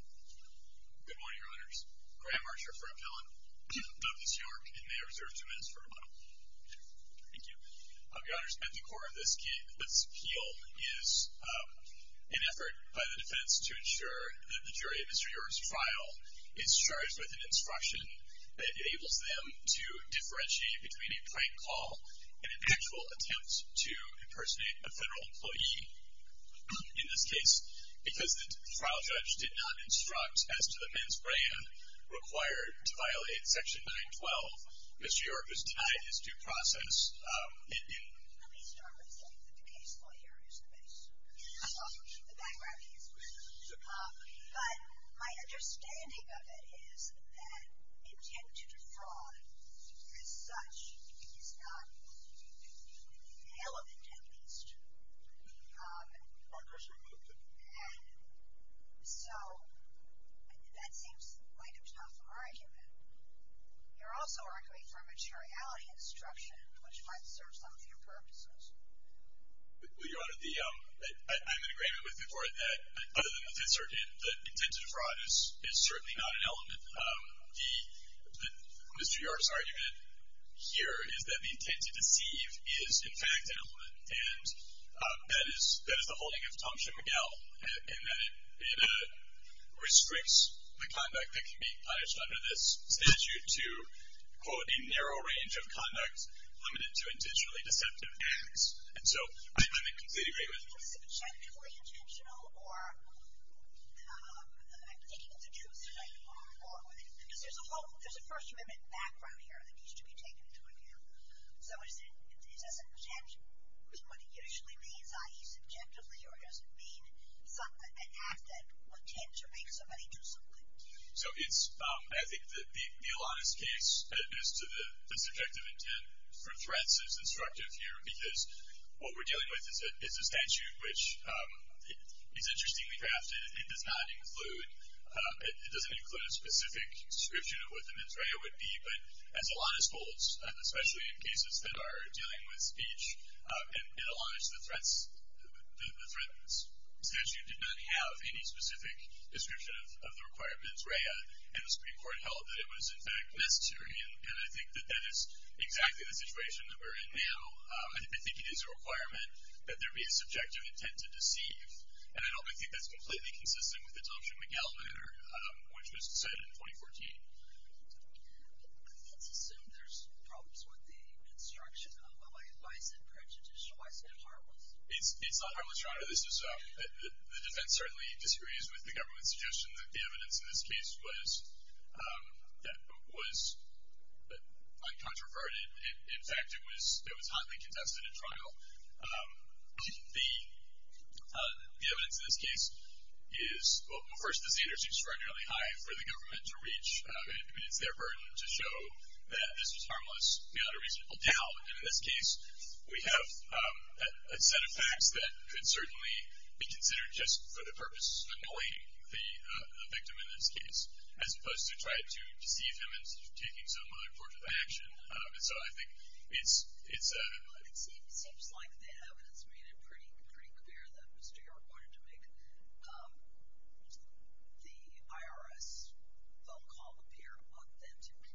Good morning, Your Honors. Graham Archer for Appellant, Douglas York, and may I reserve two minutes for rebuttal? Thank you. Your Honors, at the core of this appeal is an effort by the defense to ensure that the jury of Mr. York's trial is charged with an instruction that enables them to differentiate between a prank call and an actual attempt to impersonate a federal employee. In this case, because the trial judge did not instruct as to the men's brand required to violate Section 912, Mr. York was denied his due process. Let me start by saying that the case lawyer is the best. I'm also the background case lawyer. But my understanding of it is that intent to defraud as such is not relevant at least. And so, that seems like a tough argument. You're also arguing for a materiality instruction, which might serve some of your purposes. Well, Your Honor, I'm in agreement with the court that other than the fact that intent to defraud is certainly not an element, Mr. York's argument here is that the intent to deceive is, in fact, an element. And that is the holding of Tumption McGill, in that it restricts the conduct that can be punished under this statute to, quote, a narrow range of conduct limited to intentionally deceptive acts. And so, I completely agree with you. So, is intent subjectively intentional? Or, I'm thinking it's a two-sided argument. Because there's a first amendment background here that needs to be taken into account. So, is intent what it usually means, i.e., subjectively, or does it mean an act that intends to make somebody do something? So, it's, I think the honest case as to the subjective intent for threats is instructive here, because what we're dealing with is a statute which is interestingly crafted. It does not include, it doesn't include a specific description of what the mens rea would be, but as a lot of schools, especially in cases that are dealing with speech, in a lot of the threats, the threat statute did not have any specific description of the required mens rea. And the Supreme Court held that it was, in fact, necessary. And I think that is exactly the situation that we're in now. I think it is a requirement that there be a subjective intent to deceive. And I don't think that's completely consistent with the Thompson-McGill matter, which was set in 2014. Let's assume there's problems with the construction of a license, prejudicial license, if harmless. It's not harmless, Your Honor. The defense certainly disagrees with the government's suggestion that the evidence in this case was uncontroverted. In fact, it was hotly contested in trial. The evidence in this case is, well, first, the standard seems regularly high for the government to reach, and it's their burden to show that this was harmless beyond a reasonable doubt. And in this case, we have a set of facts that could certainly be considered just for the purpose of annoying the victim in this case, as opposed to trying to deceive him into taking some other form of action. And so I think it's... It seems like the evidence made it pretty clear that Mr. York wanted to make the IRS phone call appear authentic.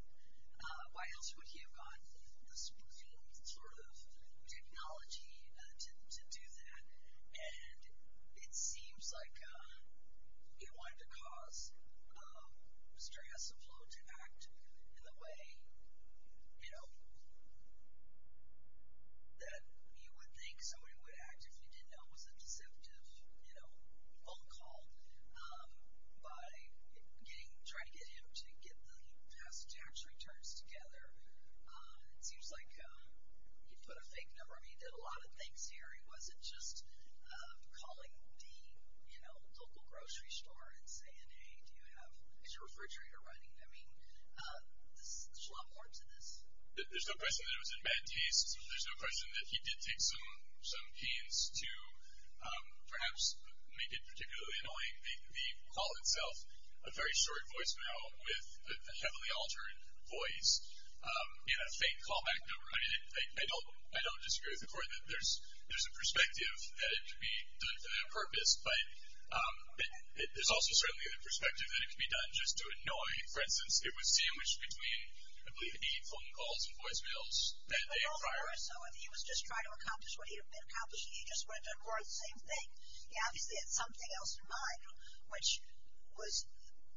Why else would he have gotten the supreme sort of technology to do that? And it seems like he wanted to cause Mr. Hassleflow to act in the way that you would think somebody would act if you didn't know it was a deceptive phone call by trying to get him to get the past tax returns together. It seems like he put a fake number and he did a lot of things here. He wasn't just calling the local grocery store and saying, hey, do you have... Is your refrigerator running? I mean, there's a lot more to this. There's no question that it was in bad taste. There's no question that he did take some pains to perhaps make it particularly annoying. The call itself, a very short voicemail with a heavily altered voice and a fake callback number. I mean, I don't disagree with the Court. There's a perspective that it could be done for that purpose, but there's also certainly the perspective that it could be done just to annoy. For instance, it was sandwiched between, I believe, eight phone calls and voicemails that day prior. But also, if he was just trying to accomplish what he had been accomplishing, he just went to court, same thing. Obviously, it's something else in mind, which was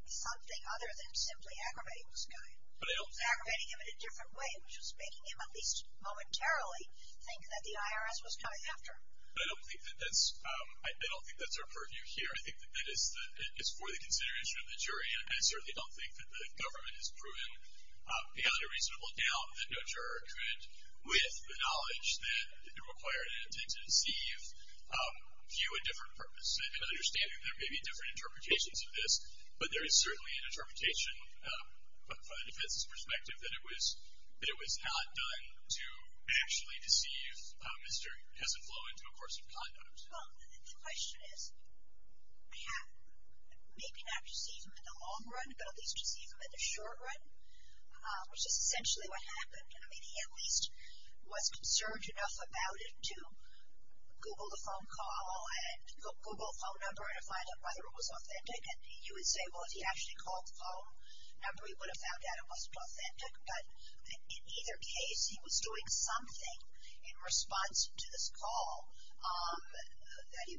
something other than simply aggravating this guy. Aggravating him in a different way, which was making him at least momentarily think that the IRS was coming after him. But I don't think that that's our purview here. I think that that is for the consideration of the jury, and I certainly don't think that the government has proven beyond a reasonable doubt that no juror could, with the knowledge that it required it to deceive, view a different purpose. And understanding there may be different interpretations of this, but there is certainly an interpretation from the defense's perspective that it was not done to actually deceive. Mystery hasn't flowed into a course of conduct. Well, the question is, maybe not deceive him in the long run, but at least deceive him in the short run, which is essentially what happened. I mean, he at least was concerned enough about it to Google the phone call and Google a phone number to find out whether it was authentic. And you would say, well, if he actually called the phone number, he would have found out it wasn't authentic. But in either case, he was doing something in response to this call that he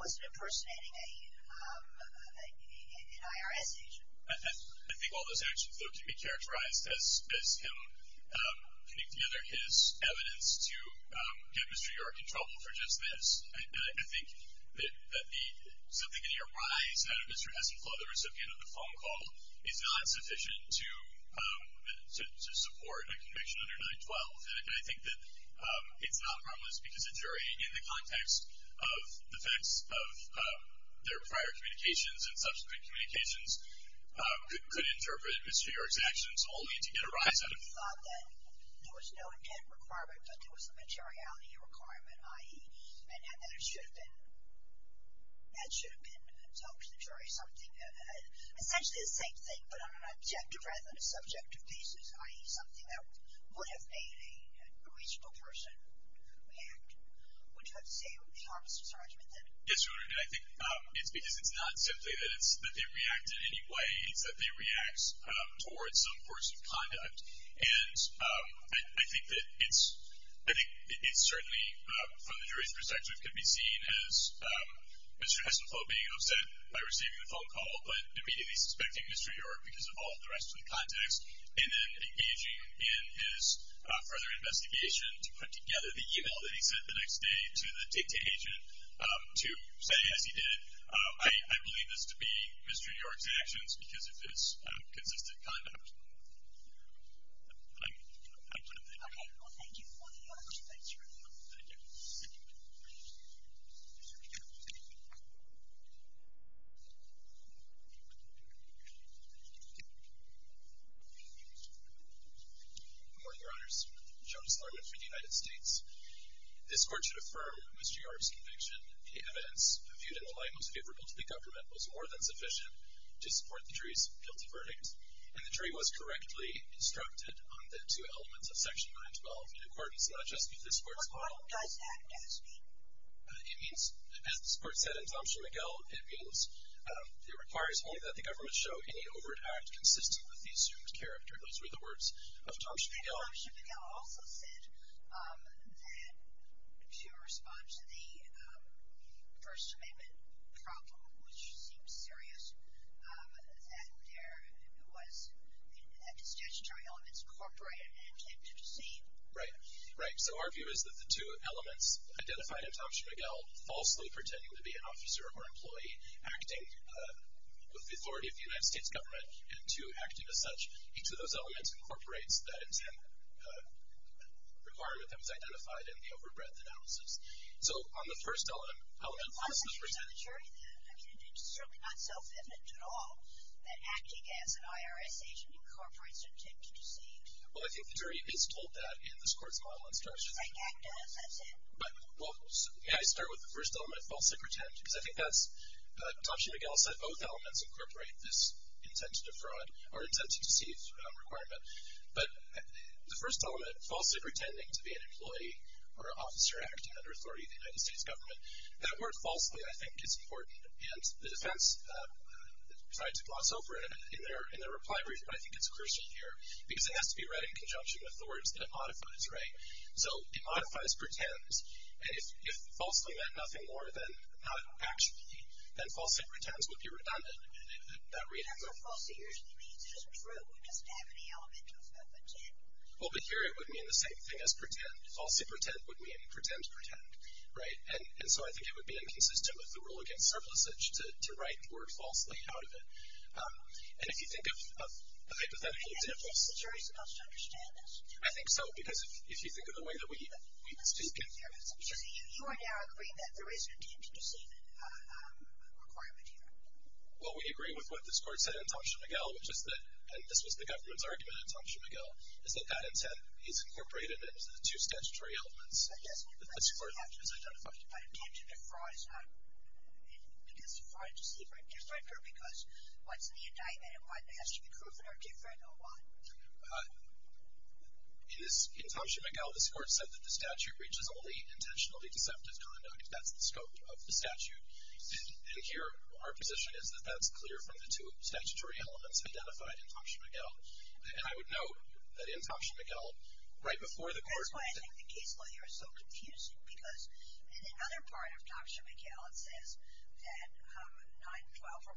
wasn't impersonating an IRS agent. I think all those actions, though, can be characterized as him putting together his evidence to get Mr. York in trouble for just this. And I think that something in the arise out of Mystery Hasn't Flowed, the recipient of the phone call, is not sufficient to support a conviction under 9-12. And I think that it's not harmless because a jury, in the context of the facts of their prior communications and subsequent communications, could interpret Mr. York's actions only to get a rise out of it. He thought that there was no intent requirement, but there was a materiality requirement, i.e., that it should have been told to the jury something, essentially the same thing, but on an objective rather than a subjective basis, i.e., something that would have made a reasonable person react. Wouldn't you have to say it would be harmless in his argument, then? Yes, Your Honor, and I think it's because it's not simply that they reacted in any way. It's that they react towards some course of conduct. And I think that it's certainly, from the jury's perspective, could be seen as Mr. Hasn't Flow being upset by receiving the phone call, but immediately suspecting Mr. York because of all of the rest of the context, and then engaging in his further investigation to put together the e-mail that he sent the next day to the TICTA agent to say, as he consistent conduct. I'm done, thank you. Okay. Thank you very much. Thanks, Your Honor. Thank you. Good morning, Your Honors. Jonas Lerman from the United States. This Court should affirm Mr. York's conviction that the evidence viewed in the light most likely to support the jury's guilty verdict, and the jury was correctly instructed on the two elements of Section 912 in accordance not just with this Court's model. What model does that mean? It means, as the Court said in Thompson-McGill, it means it requires only that the government show any overt act consistent with the assumed character. Those were the words of Thompson-McGill. Thompson-McGill also said that to respond to the First Amendment problem, which seems serious, that there was, that the statutory elements incorporate an intent to deceive. Right. Right. So our view is that the two elements identified in Thompson-McGill, falsely pretending to be an officer or employee, acting with the authority of the United States government, and two, acting as such, each of those elements incorporates that intent requirement that was identified in the overbreadth analysis. So on the first element, falsely pretending to be an officer or employee. It's certainly not self-evident at all that acting as an IRS agent incorporates an intent to deceive. Well, I think the jury is told that in this Court's model and structure. Right. That does. That's it. Well, may I start with the first element, falsely pretend? Because I think that's, Thompson-McGill said both elements incorporate this intent to defraud or intent to deceive requirement. But the first element, falsely pretending to be an employee or an officer acting under authority of the United States government, that word falsely, I think, is important. And the defense tried to gloss over it in their reply brief, but I think it's crucial here because it has to be read in conjunction with the words that it modifies. Right. So it modifies pretend. And if falsely meant nothing more than not actually, then falsely pretend would be redundant in that reading. That's what falsely usually means. It isn't true. It doesn't have any element of pretend. Well, but here it would mean the same thing as pretend. Falsely pretend would mean pretend to pretend. Right. And so I think it would be inconsistent with the rule against surplusage to write the word falsely out of it. And if you think of a hypothetical example. Do you think the jury is supposed to understand this? I think so. Because if you think of the way that we speak here. So you are now agreeing that there is an intent to deceive requirement here. Well, we agree with what this Court said in Tomshin-McGill, which is that, and this was the government's argument in Tomshin-McGill, is that that intent is incorporated into the two statutory elements. Yes. That's correct. I don't know if that intent to defraud is, I guess, defraud, deceive, or indifferent, or because what's the indictment and why it has to be proven are different, or what? In this, in Tomshin-McGill, this Court said that the statute reaches only intentionally deceptive conduct. That's the scope of the statute. And here, our position is that that's clear from the two statutory elements identified in Tomshin-McGill. And I would note that in Tomshin-McGill, right before the Court. That's why I think the case layer is so confusing. Because in another part of Tomshin-McGill, it says that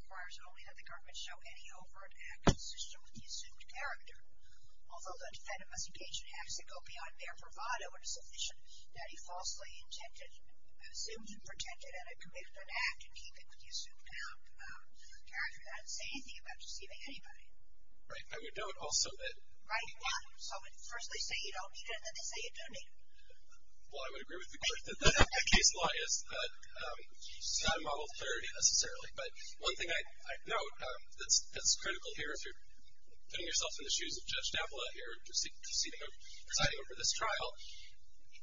9-12 requires only that the government show any overt act consistent with the assumed character. Although the defendant must engage in acts that go beyond their bravado and sufficient that he falsely intended, assumed and protected, and had committed an act in keeping with the assumed character, that doesn't say anything about deceiving anybody. Right. I would note also that. Right. Yeah. So first they say you don't need it, and then they say you do need it. Well, I would agree with the Court that that case law is not a model of clarity, necessarily. But one thing I'd note that's critical here, if you're putting yourself in the shoes of Judge D'Avila here, proceeding over this trial,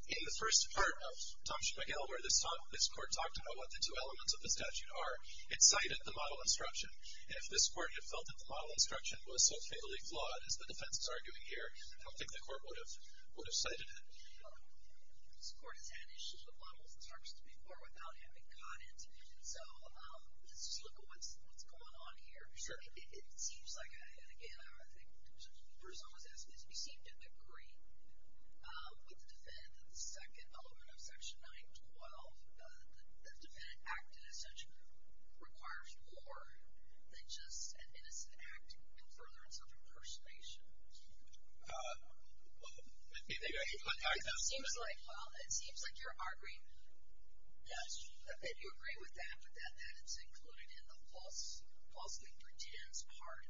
in the first part of Tomshin-McGill, where this Court talked about what the two elements of the statute are, it cited the model instruction. And if this Court had felt that the model instruction was so fatally flawed, as the defense is arguing here, I don't think the Court would have cited it. This Court has had issues with model instructions before without having caught it. And so let's just look at what's going on here. Sure. It seems like, and again, I think the person who was asking this, we seem to agree with the defendant that the second element of Section 912, the defendant acted as such, requires more than just an innocent act in furtherance of impersonation. Well, I think I can contact that. It seems like you're arguing. Yes. And you agree with that, that it's included in the falsely pretense part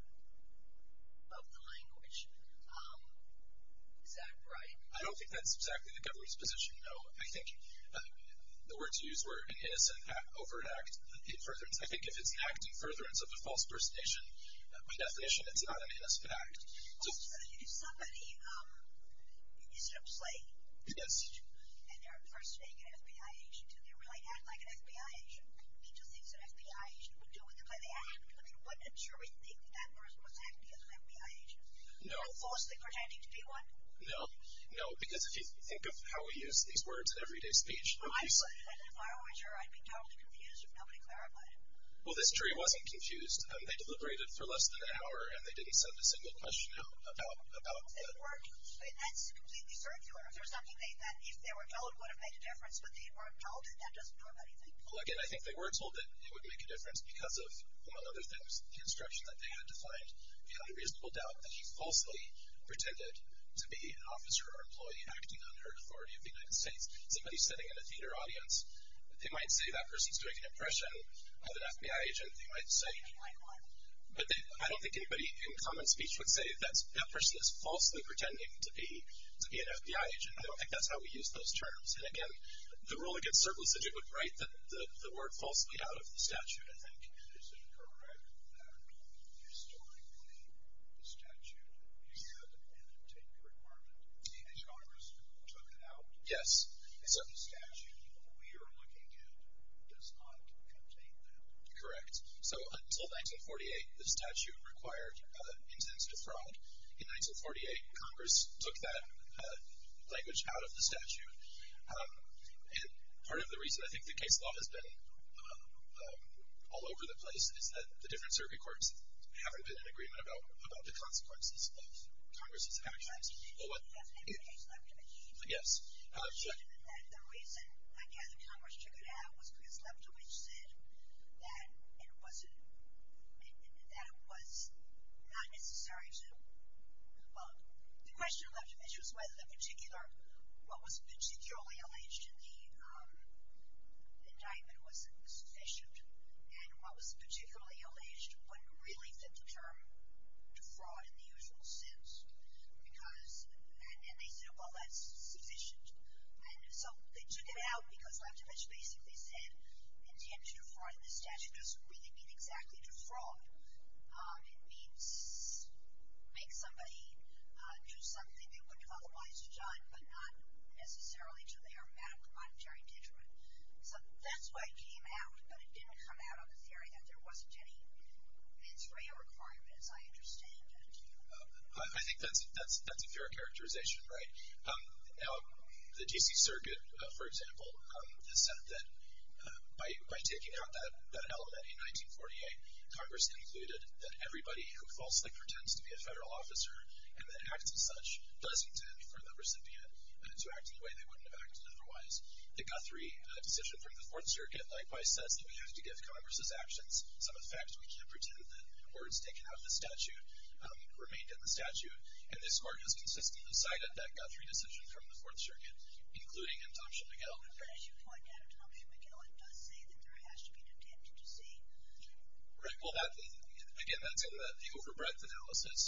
of the language. Is that right? I don't think that's exactly the government's position, no. I think the words used were an innocent act over an act in furtherance. I think if it's an act in furtherance of a false impersonation, by definition, it's not an innocent act. Well, so if somebody is, let's say, and they're impersonating an FBI agent, do they really act like an FBI agent? He just thinks an FBI agent would do what they do by the act. I mean, wouldn't a jury think that that person was acting as an FBI agent? No. Or falsely pretending to be one? No. No, because if you think of how we use these words in everyday speech. Well, I would. And if I were a juror, I'd be totally confused if nobody clarified it. Well, this jury wasn't confused. They deliberated for less than an hour, and they didn't send a single question out about that. That's completely circular. If there was nothing they meant, if they were told, it would have made a difference, but they weren't told, and that doesn't do anything. Well, again, I think they were told that it would make a difference because of, among other things, the instruction that they had to find the unreasonable doubt that he falsely pretended to be an officer or employee acting under the authority of the United States. Somebody sitting in a theater audience, they might say that person is doing an impression of an FBI agent. They might say that. But I don't think anybody in common speech would say, that person is falsely pretending to be an FBI agent. I don't think that's how we use those terms. And, again, the rule against surplus agent would write the word falsely out of the statute, I think. Is it correct that historically the statute did not contain the requirement that Congress took it out? Yes. The statute we are looking at does not contain that. Correct. So until 1948, the statute required intent to defraud. In 1948, Congress took that language out of the statute. And part of the reason I think the case law has been all over the place is that the different circuit courts haven't been in agreement about the consequences of Congress's actions. Yes. The reason, again, that Congress took it out was because Leptovich said that it wasn't, that it was not necessary to, well, the question of Leptovich was whether the particular, what was particularly alleged in the indictment was sufficient. And what was particularly alleged wouldn't really fit the term defraud in the usual sense because, and they said, well, that's sufficient. And so they took it out because Leptovich basically said intent to defraud. And the statute doesn't really mean exactly defraud. It means make somebody do something they wouldn't have otherwise done, but not necessarily to their monetary detriment. So that's why it came out. But it didn't come out on the theory that there wasn't any requirements, I understand. I think that's a fair characterization, right? Now, the D.C. Circuit, for example, has said that by taking out that element in 1948, Congress concluded that everybody who falsely pretends to be a federal officer and then acts as such doesn't tend, for the recipient, to act in a way they wouldn't have acted otherwise. The Guthrie decision from the Fourth Circuit, likewise, says that we have to give Congress's actions some effect. We can't pretend that words taken out of the statute remained in the statute. And this Court has consistently cited that Guthrie decision from the Fourth Circuit, including in Thompson-McGill. But as you point out, Thompson-McGill, it does say that there has to be detention to see the truth. Right. Well, again, that's in the overbreadth analysis.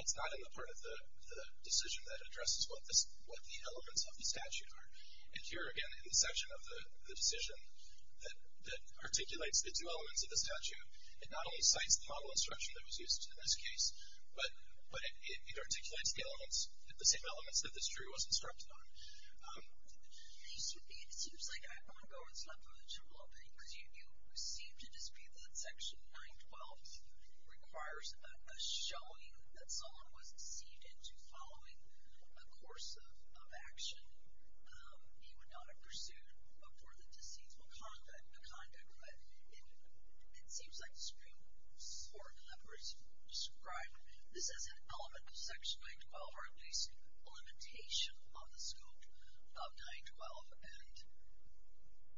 It's not in the part of the decision that addresses what the elements of the statute are. And here, again, in the section of the decision that articulates the two It not only cites the model instruction that was used in this case, but it articulates the elements, the same elements, that this jury was instructed on. It seems like I want to go over this left a little bit, because you seem to dispute that Section 912 requires a showing that someone was deceived into following a course of action he would not have pursued before the deceitful conduct. It seems like the Supreme Court of California has described this as an element of Section 912, or at least a limitation on the scope of 912. And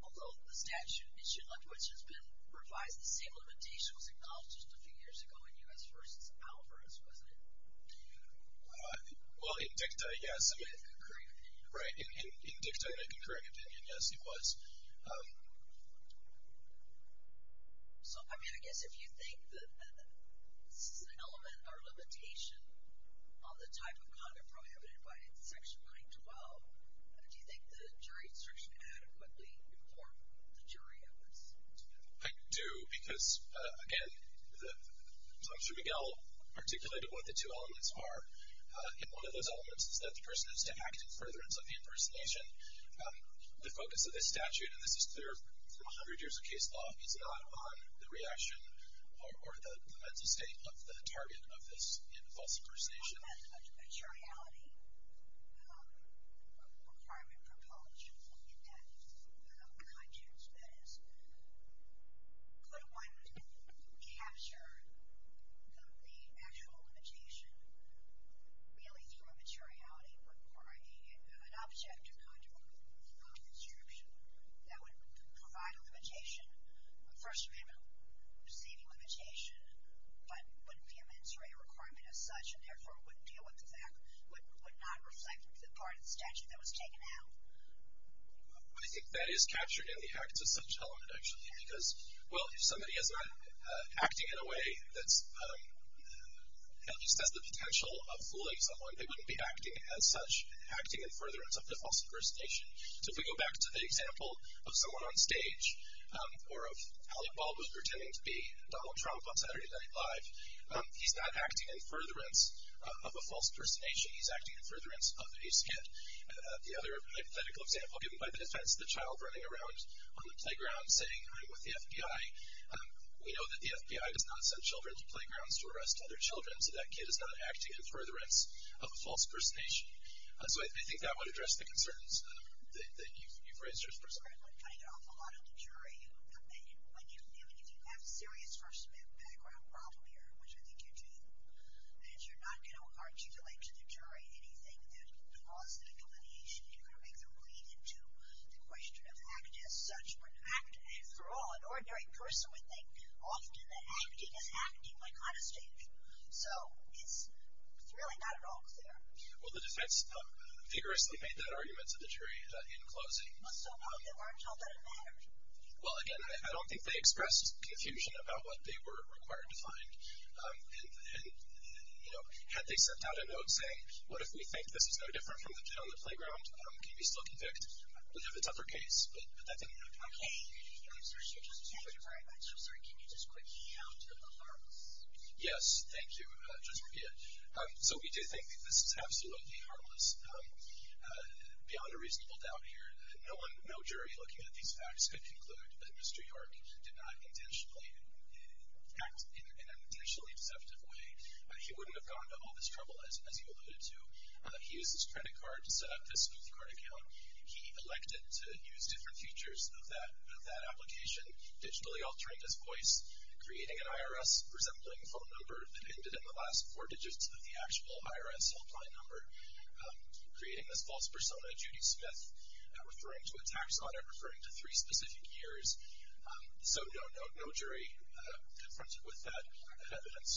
although the statute issue, like which has been revised, the same limitation was acknowledged just a few years ago in U.S. v. Alvarez, wasn't it? Well, in dicta, yes. In a concurrent opinion. Right. In dicta, in a concurrent opinion, yes, it was. So, I mean, I guess if you think that this is an element or limitation on the type of conduct provided by Section 912, do you think the jury instruction adequately informed the jury on this? I do, because, again, I'm sure Miguel articulated what the two elements are. And one of those elements is that the person is to act in furtherance of the impersonation. The focus of this statute, and this is clear from a hundred years of case law, is not on the reaction or the mental state of the target of this false impersonation. On the materiality requirement for punishment in that context, that is, could one capture the actual limitation really through a materiality or an object of conduct or instruction that would provide a limitation, a first amendment receiving limitation, but wouldn't be a mens rea requirement as such, and therefore would deal with the fact, would not reflect the part of the statute that was taken out? I think that is captured in the acts of such element, actually, because, well, if somebody is not acting in a way that just has the potential of fooling someone, they wouldn't be acting as such, acting in furtherance of the false impersonation. So if we go back to the example of someone on stage, or of Alec Baldwin pretending to be Donald Trump on Saturday Night Live, he's not acting in furtherance of a false impersonation, he's acting in furtherance of a skit. The other hypothetical example, given by the defense, the child running around on the playground saying, I'm with the FBI, we know that the FBI does not send children to playgrounds to arrest other persons of a false impersonation. So I think that would address the concerns that you've raised. I think it's prescriptive in cutting off a lot of the jury. When you have serious first-man background problem here, which I think you do, and you're not going to articulate to the jury anything that caused that delineation, you're going to make them bleed into the question of act as such. But act, after all, an ordinary person would think often that acting is acting, like on a stage. So it's really not at all clear. Well, the defense vigorously made that argument to the jury in closing. So how did our children matter? Well, again, I don't think they expressed confusion about what they were required to find. And, you know, had they sent out a note saying, what if we think this is no different from the kid on the playground, can we still convict? We'd have a tougher case. But that didn't happen. Okay. I'm sorry. I'm sorry. Can you just quickly add to the harmless? Yes. Thank you, Judge Rubia. So we do think that this is absolutely harmless. Beyond a reasonable doubt here, no jury looking at these facts could conclude that Mr. York did not intentionally act in an intentionally deceptive way. He wouldn't have gone to all this trouble, as you alluded to. He used his credit card to set up this smooth card account. He elected to use different features of that application, digitally altering his voice, creating an IRS resembling phone number that ended in the last four digits of the actual IRS helpline number, creating this false persona, Judy Smith, referring to a tax on it, referring to three specific years. So, no, no jury confronted with that evidence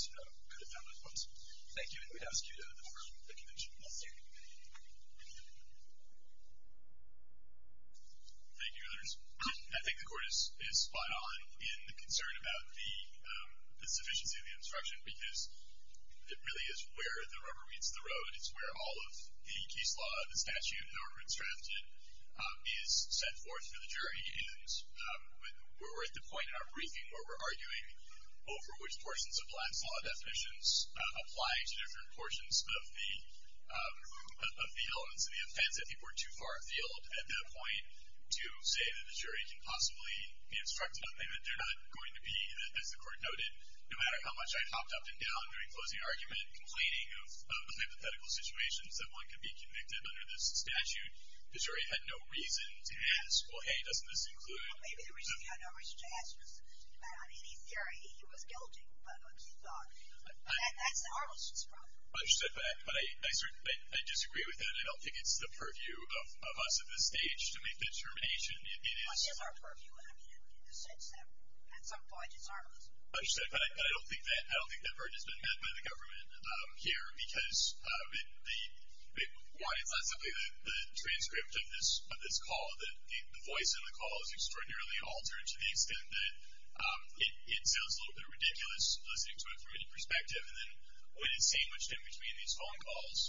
could have found those votes. Thank you. And we'd ask you to confirm the conviction. Thank you. Thank you, Your Honors. I think the Court is spot on in the concern about the sufficiency of the case law. It's not where the rubber meets the road. It's where all of the case law, the statute, and the order it's drafted is set forth for the jury. And we're at the point in our briefing where we're arguing over which portions of last law definitions apply to different portions of the elements of the offense. I think we're too far afield at that point to say that the jury can possibly be instructed that they're not going to be, as the Court noted, no matter how much I hopped up and down during closing argument, complaining of hypothetical situations, that one could be convicted under this statute. The jury had no reason to ask, well, hey, doesn't this include. Well, maybe the reason they had no reason to ask was, I mean, in theory, he was guilty, but what you thought. That's an armistice problem. Understood. But I disagree with that. I don't think it's the purview of us at this stage to make that determination. It is. Well, it is our purview. I mean, in a sense, at some point, it's armistice. Understood. But I don't think that burden has been met by the government here because, one, it's not simply the transcript of this call. The voice in the call is extraordinarily altered to the extent that it sounds a little bit ridiculous listening to it from any perspective. And then when it's sandwiched in between these phone calls,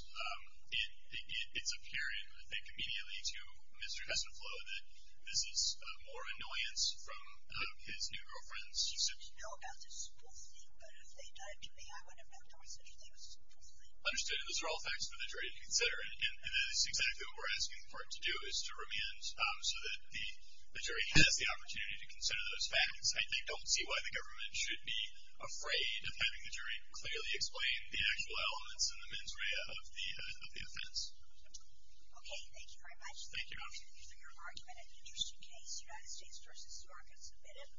it's appearing, I think, immediately to Mr. Heselfloh that this is more about the simplicity, but if they'd done it to me, I wouldn't have knocked over such a thing as simplicity. Understood. And those are all facts for the jury to consider. And that is exactly what we're asking the court to do, is to remand so that the jury has the opportunity to consider those facts. I don't see why the government should be afraid of having the jury clearly explain the actual elements and the mens rea of the offense. Okay. Thank you very much. Thank you. Thank you for your argument. An interesting case. United States v. York has submitted.